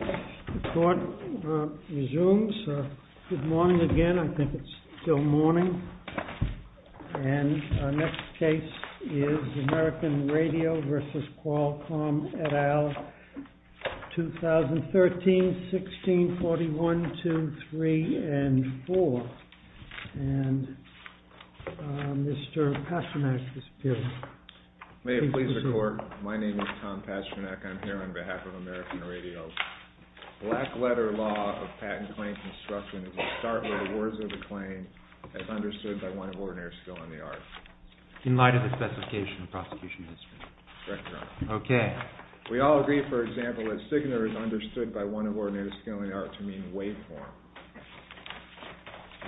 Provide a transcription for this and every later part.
The court resumes. Good morning again. I think it's still morning. And our next case is American Radio v. Qualcomm et al., 2013-16-41-2-3-4. And Mr. Pasternak is here. May it please the court, my name is Tom Pasternak. I'm here on behalf of American Radio. Black letter law of patent claim construction is to start with the words of the claim as understood by one of ordinary skill in the art. In light of the specification of prosecution history. Correct, Your Honor. We all agree, for example, that Signor is understood by one of ordinary skill in the art to mean waveform.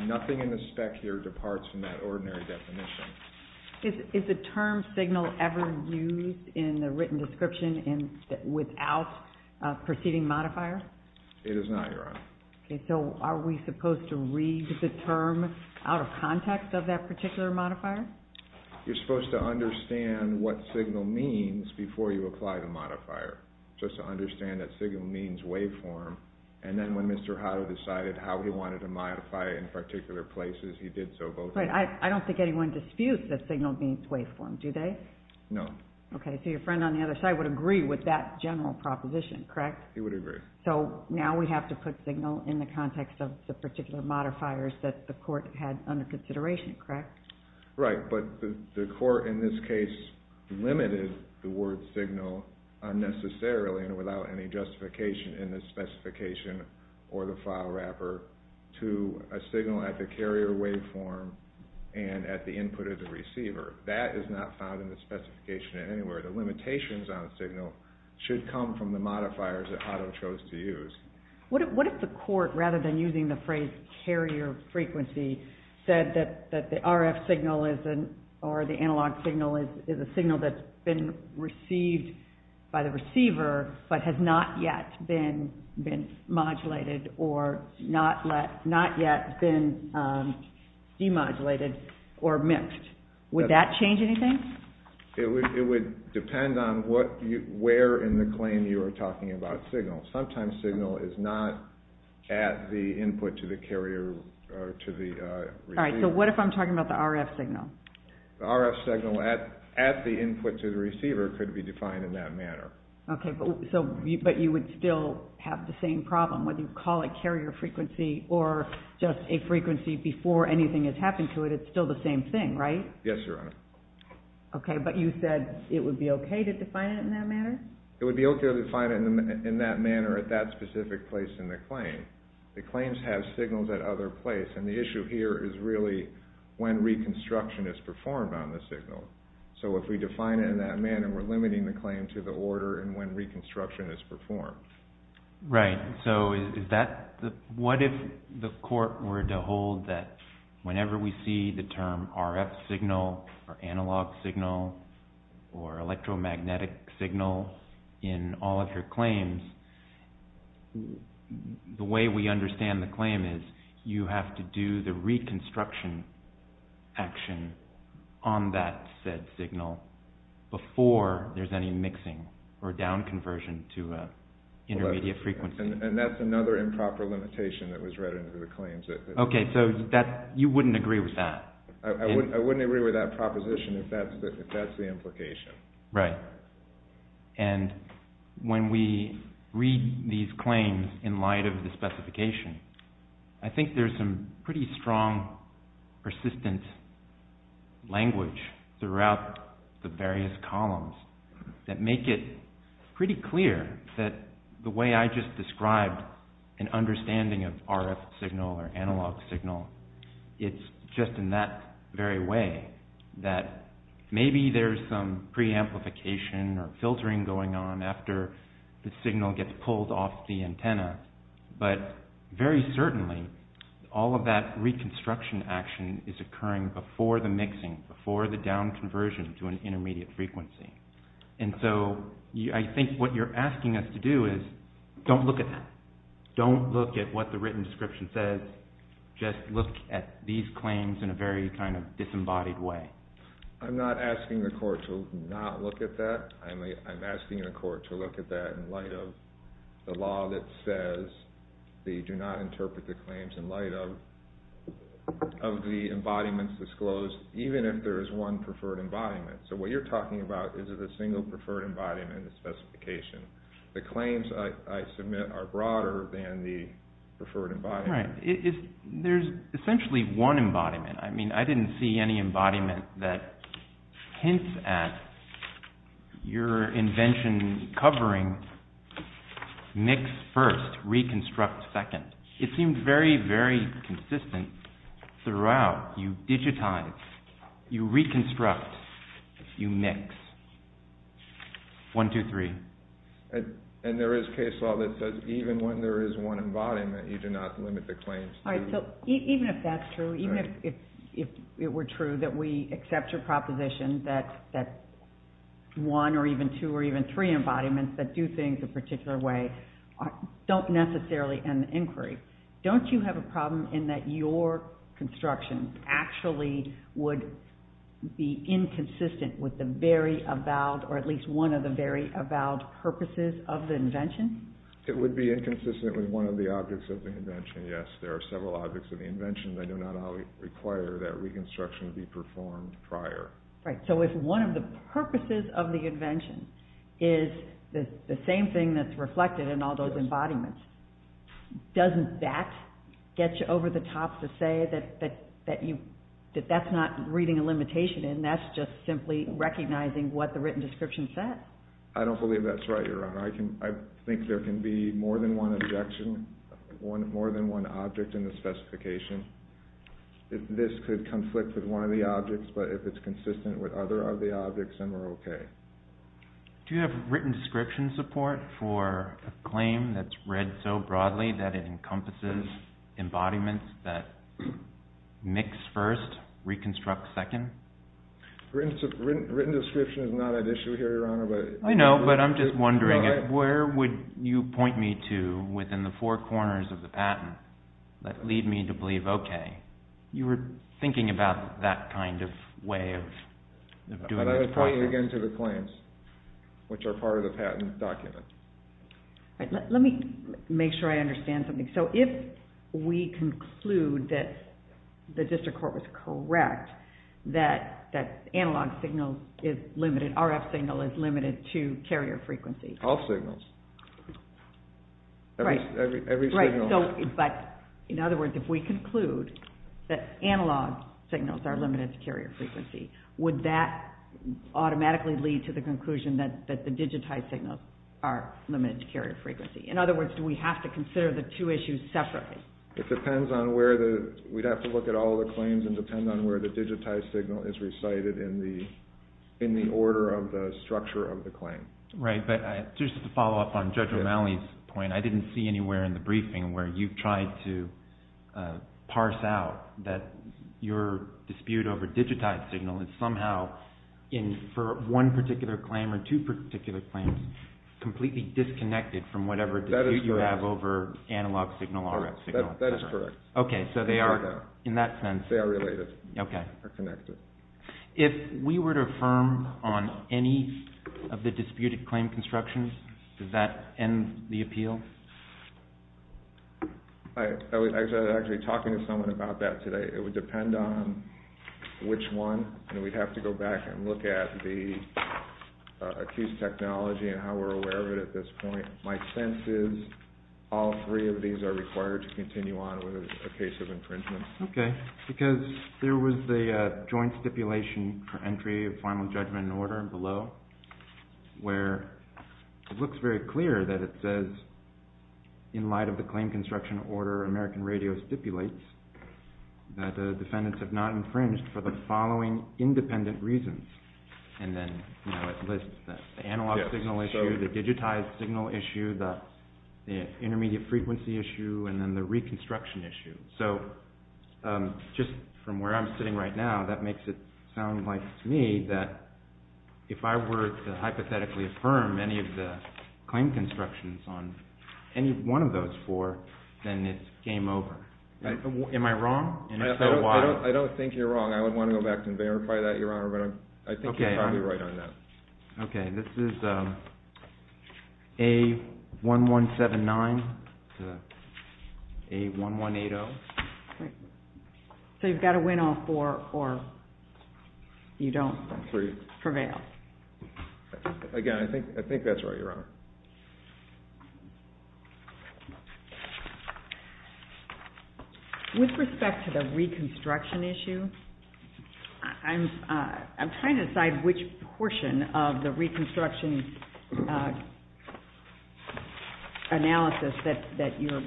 Nothing in the spec here departs from that ordinary definition. Is the term Signor ever used in the written description without preceding modifier? It is not, Your Honor. So are we supposed to read the term out of context of that particular modifier? You're supposed to understand what Signor means before you apply the modifier. Just to understand that Signor means waveform. And then when Mr. Hodder decided how he wanted to modify it in particular places, he did so both ways. I don't think anyone disputes that Signor means waveform, do they? No. Okay, so your friend on the other side would agree with that general proposition, correct? He would agree. So now we have to put Signor in the context of the particular modifiers that the court had under consideration, correct? Right, but the court in this case limited the word Signor unnecessarily and without any justification in the specification or the file wrapper to a signal at the carrier waveform and at the input of the receiver. That is not found in the specification anywhere. The limitations on Signor should come from the modifiers that Hodder chose to use. What if the court, rather than using the phrase carrier frequency, said that the RF signal or the analog signal is a signal that's been received by the receiver but has not yet been modulated or not yet been demodulated or mixed? Would that change anything? It would depend on where in the claim you are talking about signal. Sometimes signal is not at the input to the carrier or to the receiver. All right, so what if I'm talking about the RF signal? The RF signal at the input to the receiver could be defined in that manner. But you would still have the same problem. Whether you call it carrier frequency or just a frequency before anything has happened to it, it's still the same thing, right? Yes, Your Honor. Okay, but you said it would be okay to define it in that manner? It would be okay to define it in that manner at that specific place in the claim. The claims have signals at other places and the issue here is really when reconstruction is performed on the signal. So if we define it in that manner, we're limiting the claim to the order and when reconstruction is performed. Right, so what if the court were to hold that whenever we see the term RF signal or analog signal or electromagnetic signal in all of your claims, the way we understand the claim is you have to do the reconstruction action on that said signal before there's any mixing or down conversion to intermediate frequency. And that's another improper limitation that was read into the claims. Okay, so you wouldn't agree with that? I wouldn't agree with that proposition if that's the implication. Right. And when we read these claims in light of the specification, I think there's some pretty strong persistent language throughout the various columns that make it pretty clear that the way I just described an understanding of RF signal or analog signal, it's just in that very way that maybe there's some preamplification or filtering going on after the signal gets pulled off the antenna, but very certainly all of that reconstruction action is occurring before the mixing, before the down conversion to an intermediate frequency. And so I think what you're asking us to do is don't look at that. Just look at these claims in a very kind of disembodied way. I'm not asking the court to not look at that. I'm asking the court to look at that in light of the law that says they do not interpret the claims in light of the embodiments disclosed, even if there is one preferred embodiment. So what you're talking about is a single preferred embodiment in the specification. The claims I submit are broader than the preferred embodiment. There's essentially one embodiment. I mean, I didn't see any embodiment that hints at your invention covering mix first, reconstruct second. It seemed very, very consistent throughout. You digitize, you reconstruct, you mix. One, two, three. And there is case law that says even when there is one embodiment, you do not limit the claims. All right, so even if that's true, even if it were true that we accept your proposition that one or even two or even three embodiments that do things a particular way don't necessarily end the inquiry. Don't you have a problem in that your construction actually would be inconsistent with the very avowed or at least one of the very avowed purposes of the invention? It would be inconsistent with one of the objects of the invention, yes. There are several objects of the invention that do not require that reconstruction to be performed prior. Right, so if one of the purposes of the invention is the same thing that's reflected in all those embodiments, doesn't that get you over the top to say that that's not reading a limitation and that's just simply recognizing what the written description said? I don't believe that's right, Your Honor. I think there can be more than one objection, more than one object in the specification. This could conflict with one of the objects, but if it's consistent with other of the objects, then we're okay. Do you have written description support for a claim that's read so broadly that it encompasses embodiments that mix first, reconstruct second? Written description is not an issue here, Your Honor. I know, but I'm just wondering where would you point me to within the four corners of the patent that lead me to believe, okay, you were thinking about that kind of way of doing this process? I would point you again to the claims, which are part of the patent document. Let me make sure I understand something. If we conclude that the district court was correct, that analog signal is limited, RF signal is limited to carrier frequency. All signals. Right. In other words, if we conclude that analog signals are limited to carrier frequency, would that automatically lead to the conclusion that the digitized signals are limited to carrier frequency? In other words, do we have to consider the two issues separately? It depends on where the, we'd have to look at all the claims and depend on where the digitized signal is recited in the order of the structure of the claim. Right, but just to follow up on Judge O'Malley's point, I didn't see anywhere in the briefing where you tried to parse out that your dispute over digitized signal is somehow, for one particular claim or two particular claims, completely disconnected from whatever dispute you have over analog signal, RF signal. That is correct. Okay, so they are in that sense. They are related or connected. If we were to affirm on any of the disputed claim constructions, does that end the appeal? I was actually talking to someone about that today. It would depend on which one, and we'd have to go back and look at the accused technology and how we're aware of it at this point. My sense is all three of these are required to continue on with a case of infringement. Okay, because there was the joint stipulation for entry of final judgment and order below, where it looks very clear that it says, in light of the claim construction order American Radio stipulates, that the defendants have not infringed for the following independent reasons. And then, you know, it lists the analog signal issue, the digitized signal issue, the intermediate frequency issue, and then the reconstruction issue. So, just from where I'm sitting right now, that makes it sound like to me that if I were to hypothetically affirm any of the claim constructions on any one of those four, then it's game over. Am I wrong? I don't think you're wrong. I would want to go back and verify that, Your Honor, but I think you're probably right on that. Okay, this is A1179 to A1180. So you've got to win all four or you don't prevail. Again, I think that's right, Your Honor. With respect to the reconstruction issue, I'm trying to decide which portion of the reconstruction analysis that you're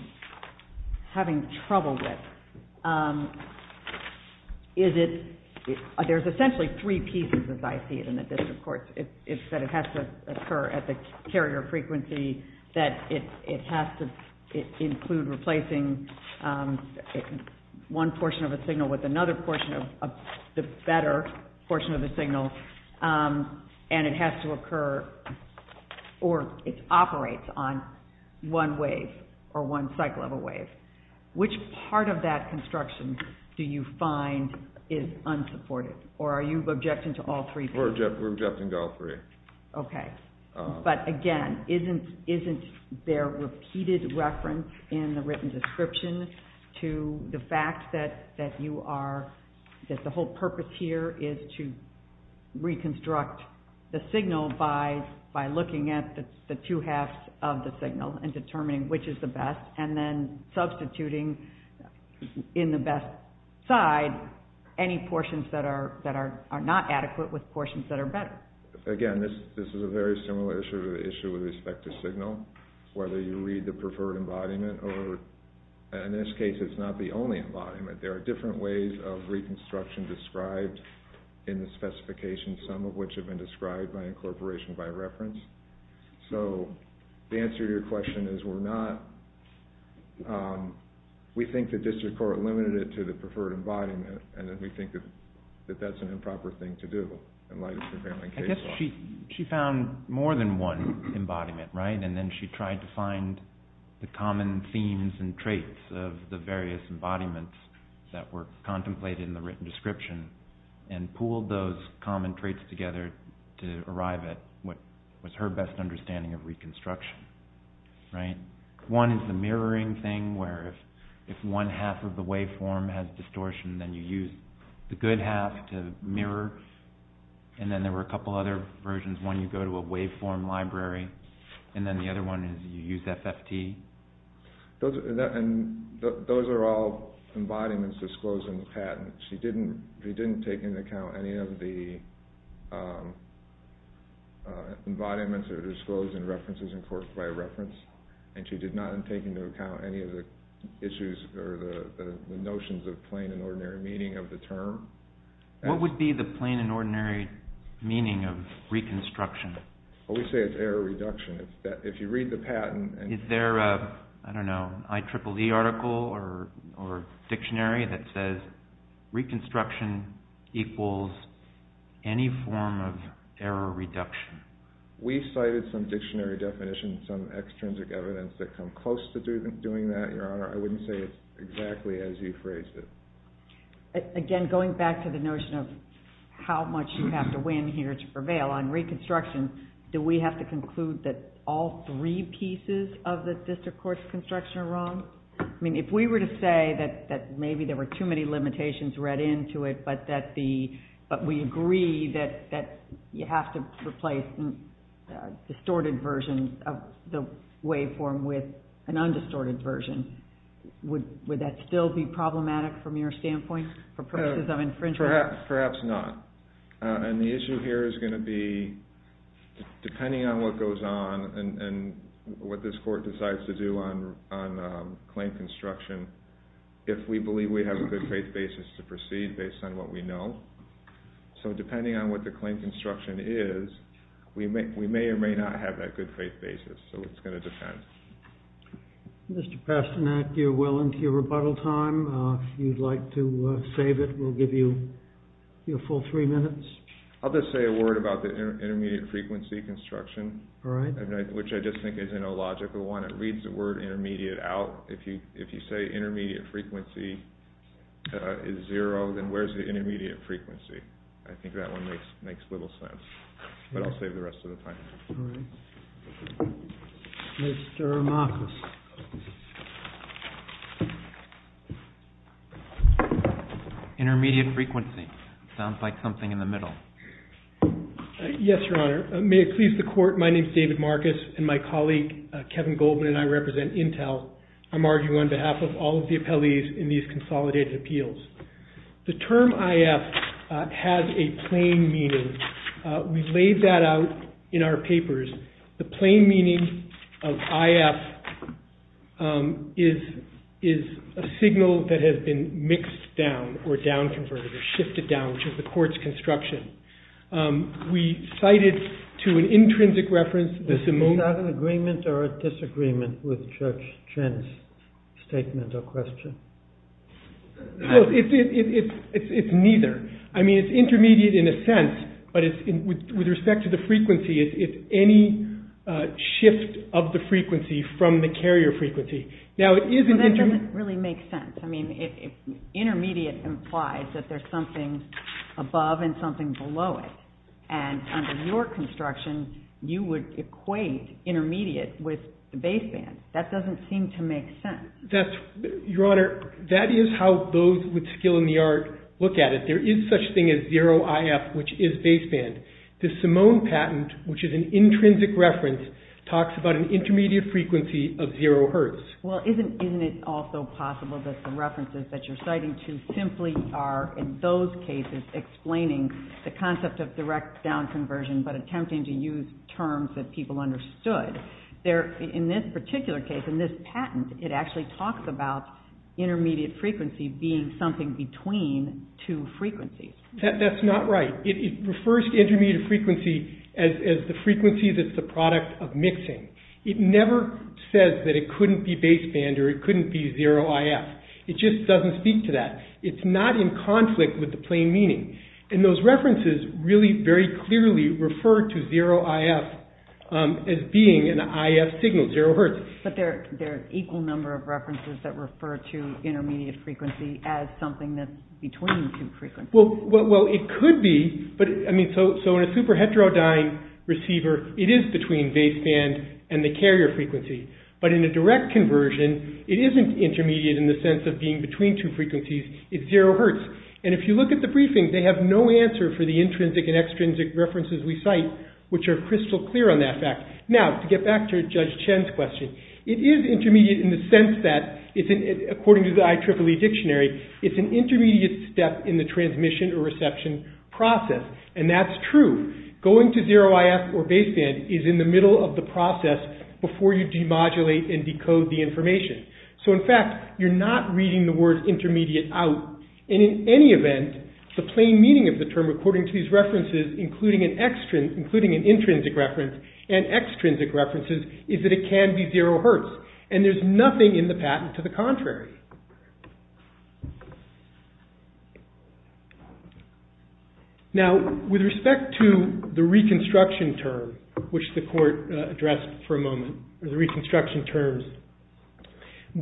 having trouble with. Is it, there's essentially three pieces, as I see it in the district courts. It's that it has to occur at the carrier frequency, that it has to include replacing one portion of a signal with another portion, the better portion of the signal, and it has to occur, or it operates on one wave or one cycle of a wave. Which part of that construction do you find is unsupported? Or are you objecting to all three? We're objecting to all three. Okay, but again, isn't there repeated reference in the written description to the fact that you are, that the whole purpose here is to reconstruct the signal by looking at the two halves of the signal and determining which is the best and then substituting in the best side any portions that are not adequate with portions that are better? Again, this is a very similar issue to the issue with respect to signal, whether you read the preferred embodiment or, in this case, it's not the only embodiment. There are different ways of reconstruction described in the specifications, some of which have been described by incorporation by reference. So the answer to your question is we're not, we think the district court limited it to the preferred embodiment and that we think that that's an improper thing to do in light of the Grahamling case law. She found more than one embodiment, right? And then she tried to find the common themes and traits of the various embodiments that were contemplated in the written description and pooled those common traits together to arrive at what was her best understanding of reconstruction. One is the mirroring thing where if one half of the waveform has distortion then you use the good half to mirror. And then there were a couple other versions. One you go to a waveform library and then the other one is you use FFT. Those are all embodiments disclosed in the patent. She didn't take into account any of the embodiments that are disclosed in references, of course, by reference. And she did not take into account any of the issues or the notions of plain and ordinary meaning of the term. What would be the plain and ordinary meaning of reconstruction? We say it's error reduction. If you read the patent... Is there an IEEE article or dictionary that says reconstruction equals any form of error reduction? We cited some dictionary definitions, some extrinsic evidence that come close to doing that, Your Honor. I wouldn't say it's exactly as you phrased it. Again, going back to the notion of how much you have to win here to prevail on reconstruction, do we have to conclude that all three pieces of the district court's construction are wrong? I mean, if we were to say that maybe there were too many limitations read into it but we agree that you have to replace distorted versions of the waveform with an undistorted version, would that still be problematic from your standpoint for purposes of infringement? Perhaps not. And the issue here is going to be, depending on what goes on and what this court decides to do on claim construction, if we believe we have a good faith basis to proceed based on what we know. So depending on what the claim construction is, we may or may not have that good faith basis. So it's going to depend. Mr. Pastanak, you're well into your rebuttal time. If you'd like to save it, we'll give you your full three minutes. I'll just say a word about the intermediate frequency construction, which I just think is an illogical one. It reads the word intermediate out. If you say intermediate frequency is zero, then where's the intermediate frequency? I think that one makes little sense. But I'll save the rest of the time. All right. Mr. Marcus. Intermediate frequency. Sounds like something in the middle. Yes, Your Honor. May it please the court, my name is David Marcus, and my colleague Kevin Goldman and I represent Intel. I'm arguing on behalf of all of the appellees in these consolidated appeals. The term IF has a plain meaning. We've laid that out in our papers. The plain meaning of IF is a signal that has been mixed down or down-converted or shifted down, which is the court's construction. We cite it to an intrinsic reference. Is that an agreement or a disagreement with Judge Chin's statement or question? No, it's neither. I mean, it's intermediate in a sense, but with respect to the frequency, it's any shift of the frequency from the carrier frequency. That doesn't really make sense. Intermediate implies that there's something above and something below it. And under your construction, you would equate intermediate with baseband. That doesn't seem to make sense. Your Honor, that is how those with skill in the art look at it. There is such a thing as zero IF, which is baseband. The Simone patent, which is an intrinsic reference, talks about an intermediate frequency of zero hertz. Well, isn't it also possible that the references that you're citing to simply are, in those cases, explaining the concept of direct down-conversion but attempting to use terms that people understood. In this particular case, in this patent, it actually talks about intermediate frequency being something between two frequencies. That's not right. It refers to intermediate frequency as the frequency that's the product of mixing. It never says that it couldn't be baseband or it couldn't be zero IF. It just doesn't speak to that. It's not in conflict with the plain meaning. And those references really very clearly refer to zero IF But there are an equal number of references that refer to intermediate frequency as something that's between two frequencies. Well, it could be. So in a super heterodyne receiver, it is between baseband and the carrier frequency. But in a direct conversion, it isn't intermediate in the sense of being between two frequencies. It's zero hertz. And if you look at the briefing, they have no answer for the intrinsic and extrinsic references we cite, which are crystal clear on that fact. Now, to get back to Judge Chen's question, it is intermediate in the sense that, according to the IEEE dictionary, it's an intermediate step in the transmission or reception process. And that's true. Going to zero IF or baseband is in the middle of the process before you demodulate and decode the information. So in fact, you're not reading the word intermediate out. And in any event, the plain meaning of the term according to these references, including an intrinsic reference and extrinsic references, is that it can be zero hertz. And there's nothing in the patent to the contrary. Now, with respect to the reconstruction term, which the court addressed for a moment, the reconstruction terms,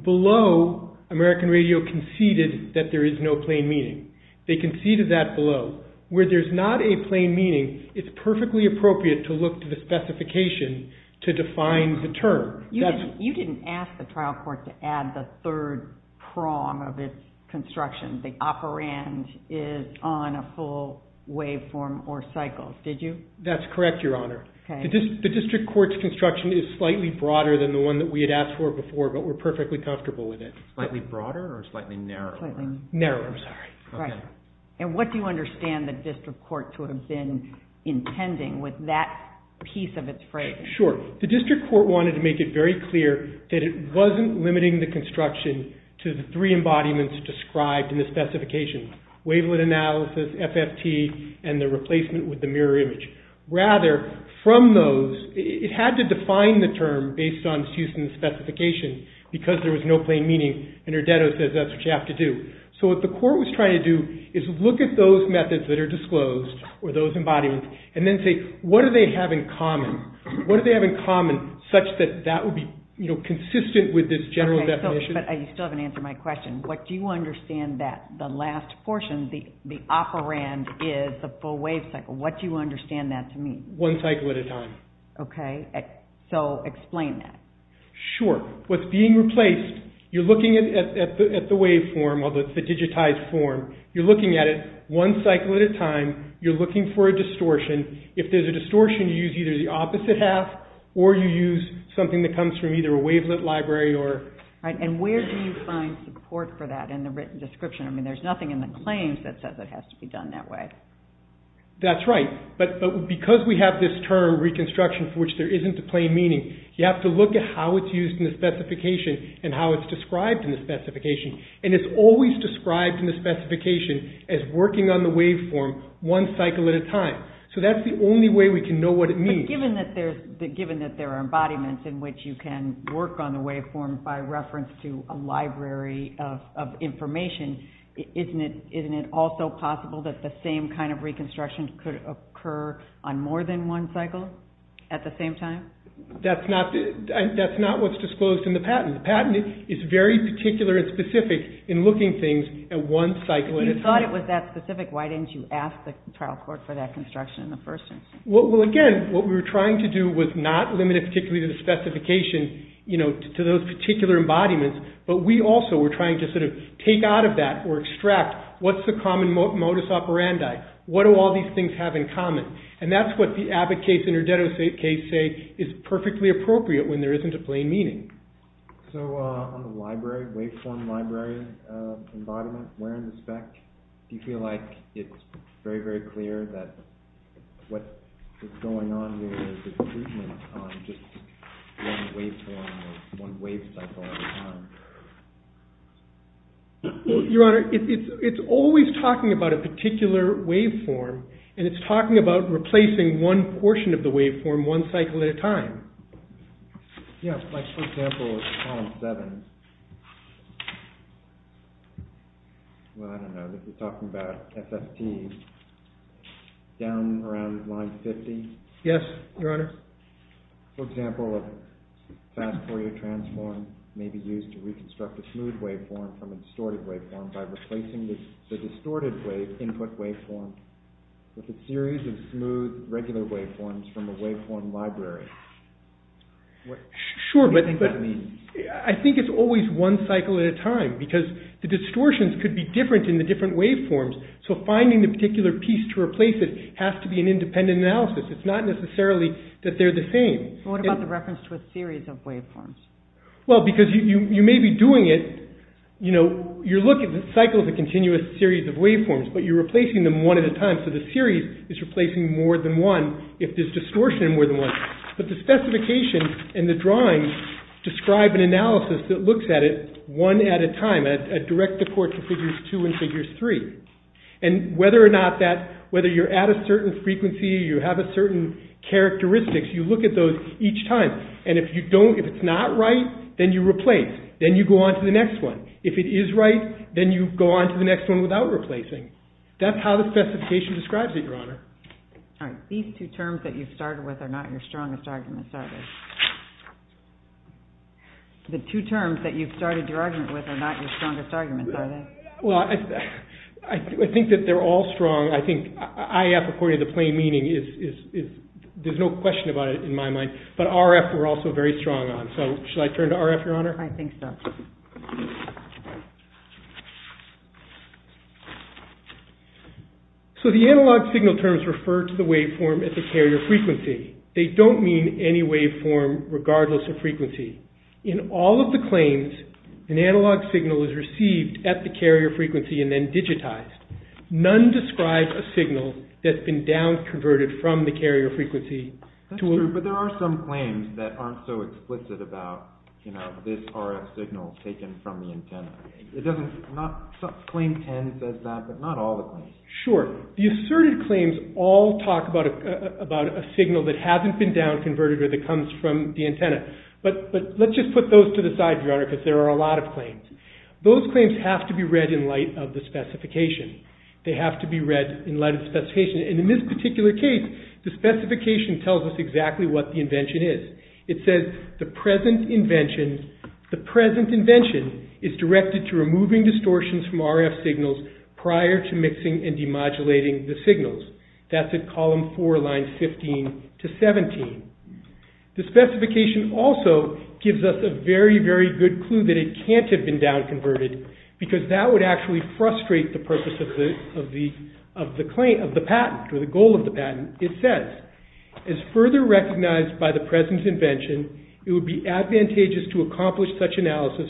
below, American Radio conceded that there is no plain meaning. They conceded that below. Where there's not a plain meaning, it's perfectly appropriate to look to the specification to define the term. You didn't ask the trial court to add the third prong of its construction, the operand is on a full waveform or cycle, did you? That's correct, Your Honor. The district court's construction is slightly broader than the one that we had asked for before, but we're perfectly comfortable with it. Slightly broader or slightly narrower? Narrower, sorry. And what do you understand the district court sort of been intending with that piece of its phrase? Sure. The district court wanted to make it very clear that it wasn't limiting the construction to the three embodiments described in the specification. Wavelet analysis, FFT, and the replacement with the mirror image. Rather, from those, it had to define the term based on its use in the specification because there was no plain meaning, and Herdetto says that's what you have to do. So what the court was trying to do is look at those methods that are disclosed or those embodiments, and then say what do they have in common? What do they have in common such that that would be consistent with this general definition? Okay, but you still haven't answered my question. What do you understand that the last portion, the operand is the full wave cycle? What do you understand that to mean? One cycle at a time. Okay, so explain that. Sure. What's being replaced, you're looking at the waveform, the digitized form, you're looking for a distortion. If there's a distortion, you use either the opposite half or you use something that comes from either a wavelet library or... And where do you find support for that in the written description? I mean there's nothing in the claims that says it has to be done that way. That's right, but because we have this term reconstruction for which there isn't a plain meaning, you have to look at how it's used in the specification and how it's described in the specification, one cycle at a time. So that's the only way we can know what it means. But given that there are embodiments in which you can work on the waveform by reference to a library of information, isn't it also possible that the same kind of reconstruction could occur on more than one cycle at the same time? That's not what's disclosed in the patent. The patent is very particular and specific in looking things at one cycle at a time. You thought it was that specific. How do you measure that construction in the first instance? Well again, what we were trying to do was not limit it particularly to the specification to those particular embodiments, but we also were trying to sort of take out of that or extract what's the common modus operandi? What do all these things have in common? And that's what the Abbott case and Herdetto case say is perfectly appropriate when there isn't a plain meaning. So on the waveform library embodiment, where in the spec what is going on here is the treatment on just one waveform or one wave cycle at a time? Your Honor, it's always talking about a particular waveform and it's talking about replacing one portion of the waveform one cycle at a time. Yes, like for example, column 7. Well I don't know, this is talking about FFT. Down around line 50? Yes, Your Honor. For example, a fast Fourier transform may be used to reconstruct a smooth waveform from a distorted waveform by replacing the distorted input waveform with a series of smooth regular waveforms from a waveform library. What do you think that means? I think it's always one cycle at a time because the distortions could be different in the different waveforms. So finding the particular piece to replace it has to be an independent analysis. It's not necessarily that they're the same. What about the reference to a series of waveforms? Well, because you may be doing it, you know, you're looking at cycles of continuous series of waveforms but you're replacing them one at a time. So the series is replacing more than one if there's distortion in more than one. But the specification and the drawing describe an analysis that looks at it one at a time and direct the court to figures two and figures three. And whether or not that whether you're at a certain frequency you have a certain characteristics you look at those each time. And if you don't if it's not right then you replace. Then you go on to the next one. If it is right then you go on to the next one without replacing. That's how the specification describes it, Your Honor. All right. These two terms that you've started with are not your strongest arguments, are they? The two terms that you've started your argument with are not your strongest arguments, are they? Well, I think that they're all strong. I think IF according to plain meaning is there's no question about it in my mind. But RF we're also very strong on. So should I turn to RF, Your Honor? I think so. So the analog signal terms refer to the waveform at the carrier frequency. They don't mean any waveform regardless of frequency. In all of the claims an analog signal is received at the carrier frequency and then digitized. None describe a signal that's been down-converted from the carrier frequency to a... That's true, but there are some claims that aren't so explicit about, you know, this RF signal taken from the antenna. It doesn't... Not... Claim 10 says that but not all the claims. Sure. The asserted claims all talk about a signal that hasn't been down-converted or that comes from the antenna. But let's just put those to the side, Your Honor, because there are a lot of claims. Those claims have to be read in light of the specification. They have to be read in light of the specification and in this particular case the specification tells us exactly what the invention is. It says, the present invention... The present invention is directed to from RF signals prior to mixing and demodulating the signals. That's at column 4, line 15 to 17. The specification also gives us a very specific description and a very, very good clue that it can't have been down-converted because that would actually frustrate the purpose of the... of the claim... of the patent or the goal of the patent. It says, as further recognized by the present invention, it would be advantageous to accomplish such analysis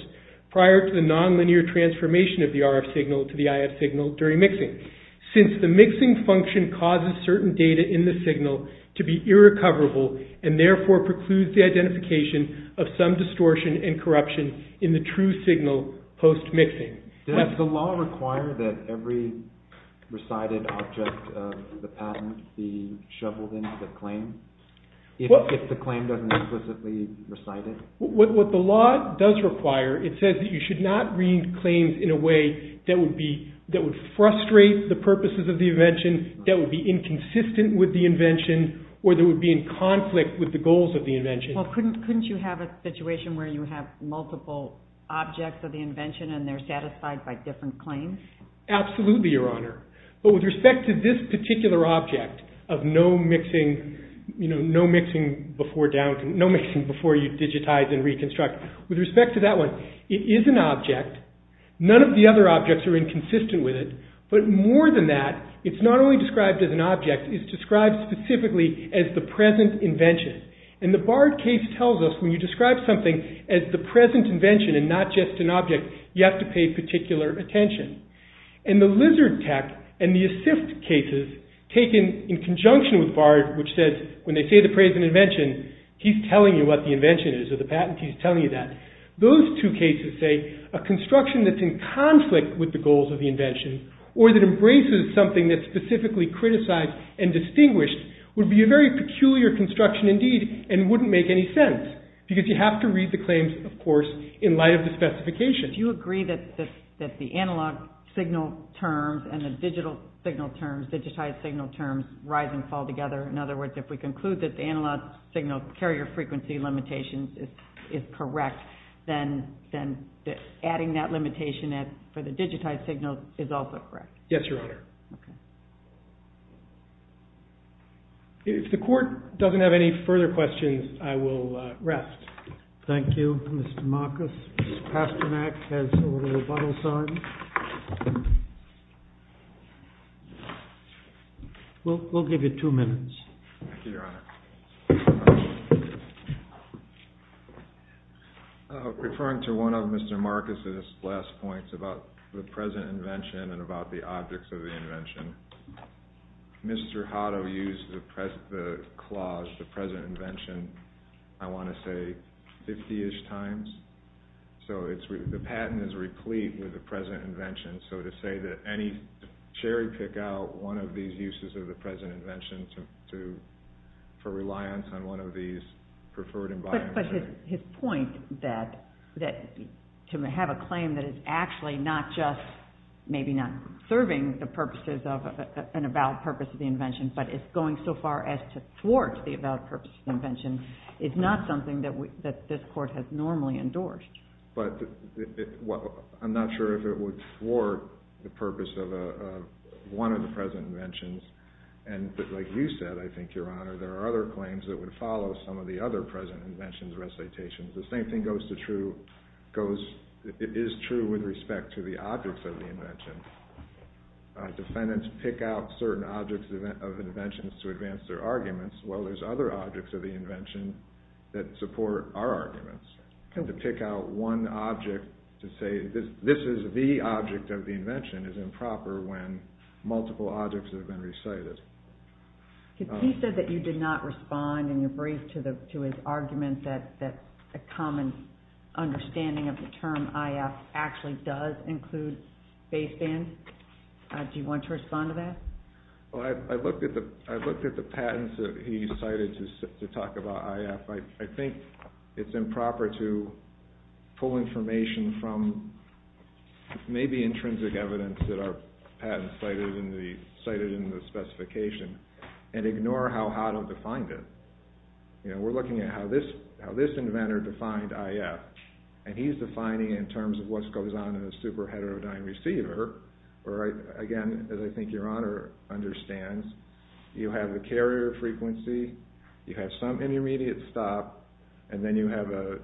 prior to the non-linear transformation of the RF signal to the IF signal during mixing since the mixing function causes certain data in the signal to be irrecoverable and therefore precludes the identification of some distortion and corruption in the true signal post-mixing. Does the law require that every recited object of the patent be shoveled into the claim if the claim doesn't explicitly recite it? What the law does require, it says that you should not read claims in a way that would be... that would frustrate the purposes of the invention, that would be inconsistent with the invention or that would be in conflict with the goals of the invention. Well, couldn't you have a situation where you have multiple objects of the invention and they're satisfied by different claims? Absolutely, Your Honor. But with respect to this particular object of no mixing, you know, no mixing before down to... no mixing before you digitize and reconstruct. With respect to that one, it is an object. are inconsistent with it, but more than that, it's not only described as an object, it's described specifically as the present invention. And the barred case is that the barred case tells us when you describe something as the present invention and not just an object, you have to pay particular attention. And the lizard tech and the assist cases taken in conjunction with barred, which says when they say the present invention, he's telling you what the invention is or the patent, he's telling you that. Those two cases say a construction that's in conflict with the goals of the invention or that embraces something that's specifically criticized and distinguished would be a very peculiar construction indeed and wouldn't make any sense because you have to read the claims, of course, in light of the specifications. Do you agree that the analog signal terms and the digital signal terms, digitized signal terms, rise and fall together? In other words, if we conclude that the analog signal carrier frequency limitations is correct, then adding that limitation for the digitized signals is also correct? Yes, Your Honor. Okay. If the court doesn't have any further questions, I will rest. Thank you, Mr. Marcus. Mr. Pasternak has a little bottle sign. We'll give you two minutes. Thank you, Your Honor. Referring to one of Mr. Marcus' last points about the present invention and about the objects of the invention. Mr. Hotto used the clause the present invention, I want to say, 50-ish times. So the patent is replete with the present invention. So to say that any cherry pick out one of these uses of the present invention for reliance on one of these preferred environments. But his point that to have a claim that is actually not just maybe not serving the purposes of an about purpose of the invention but is going so far as to thwart the about purpose of the invention is not something that this court has normally endorsed. I'm not sure if it would thwart the purpose of one of the present inventions. Like you said, I think, Your Honor, there are other claims that would follow some of the other present inventions recitations. The same thing goes to true with respect to the objects of the invention. Defendants pick out certain objects of inventions to advance their arguments while there's other objects of the invention that support our arguments. To pick out one object to say this is the object of the invention is improper when multiple objects have been recited. He said that you did not respond in your brief to his argument that a common understanding of the term IF actually does include basebands. Do you want to respond to that? I looked at the patents that he cited to talk about IF. I think it's improper to pull information from maybe intrinsic evidence that our patent cited in the specification and ignore how Hado defined it. You know, we're looking at how this inventor defined IF and he's defining it in terms of what goes on in a super heterodyne receiver. Again, as I think your honor understands, you have the carrier frequency, you have some intermediate stop, and then you have a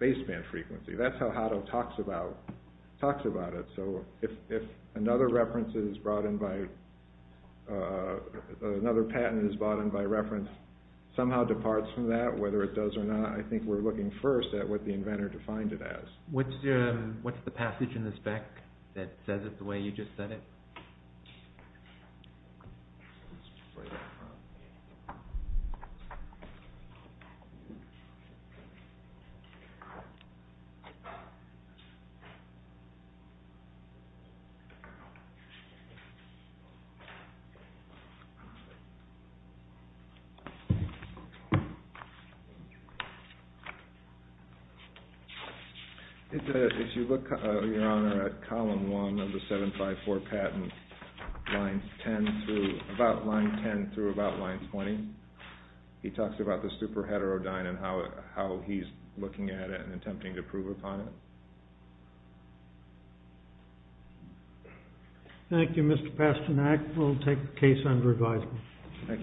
baseband frequency. That's how Hado talks about it. So if another reference is brought in by, another patent is brought in by reference somehow departs from that, whether it does or not, I think we're looking first at what the inventor defined it as. What's the passage in the spec that says it the way you just said it? If you look, your honor, at column one of the 754 patent line 10, about line 10 through about line 20, he talks about the super heterodyne and how he's looking at it and attempting to prove upon it. Thank you, Mr. Thank you. Thank you. Thank you. Thank you. Thank you. Thank you. Thank you. Thank you. Thank you. Thank you. Thank you. Thank you. Thank you.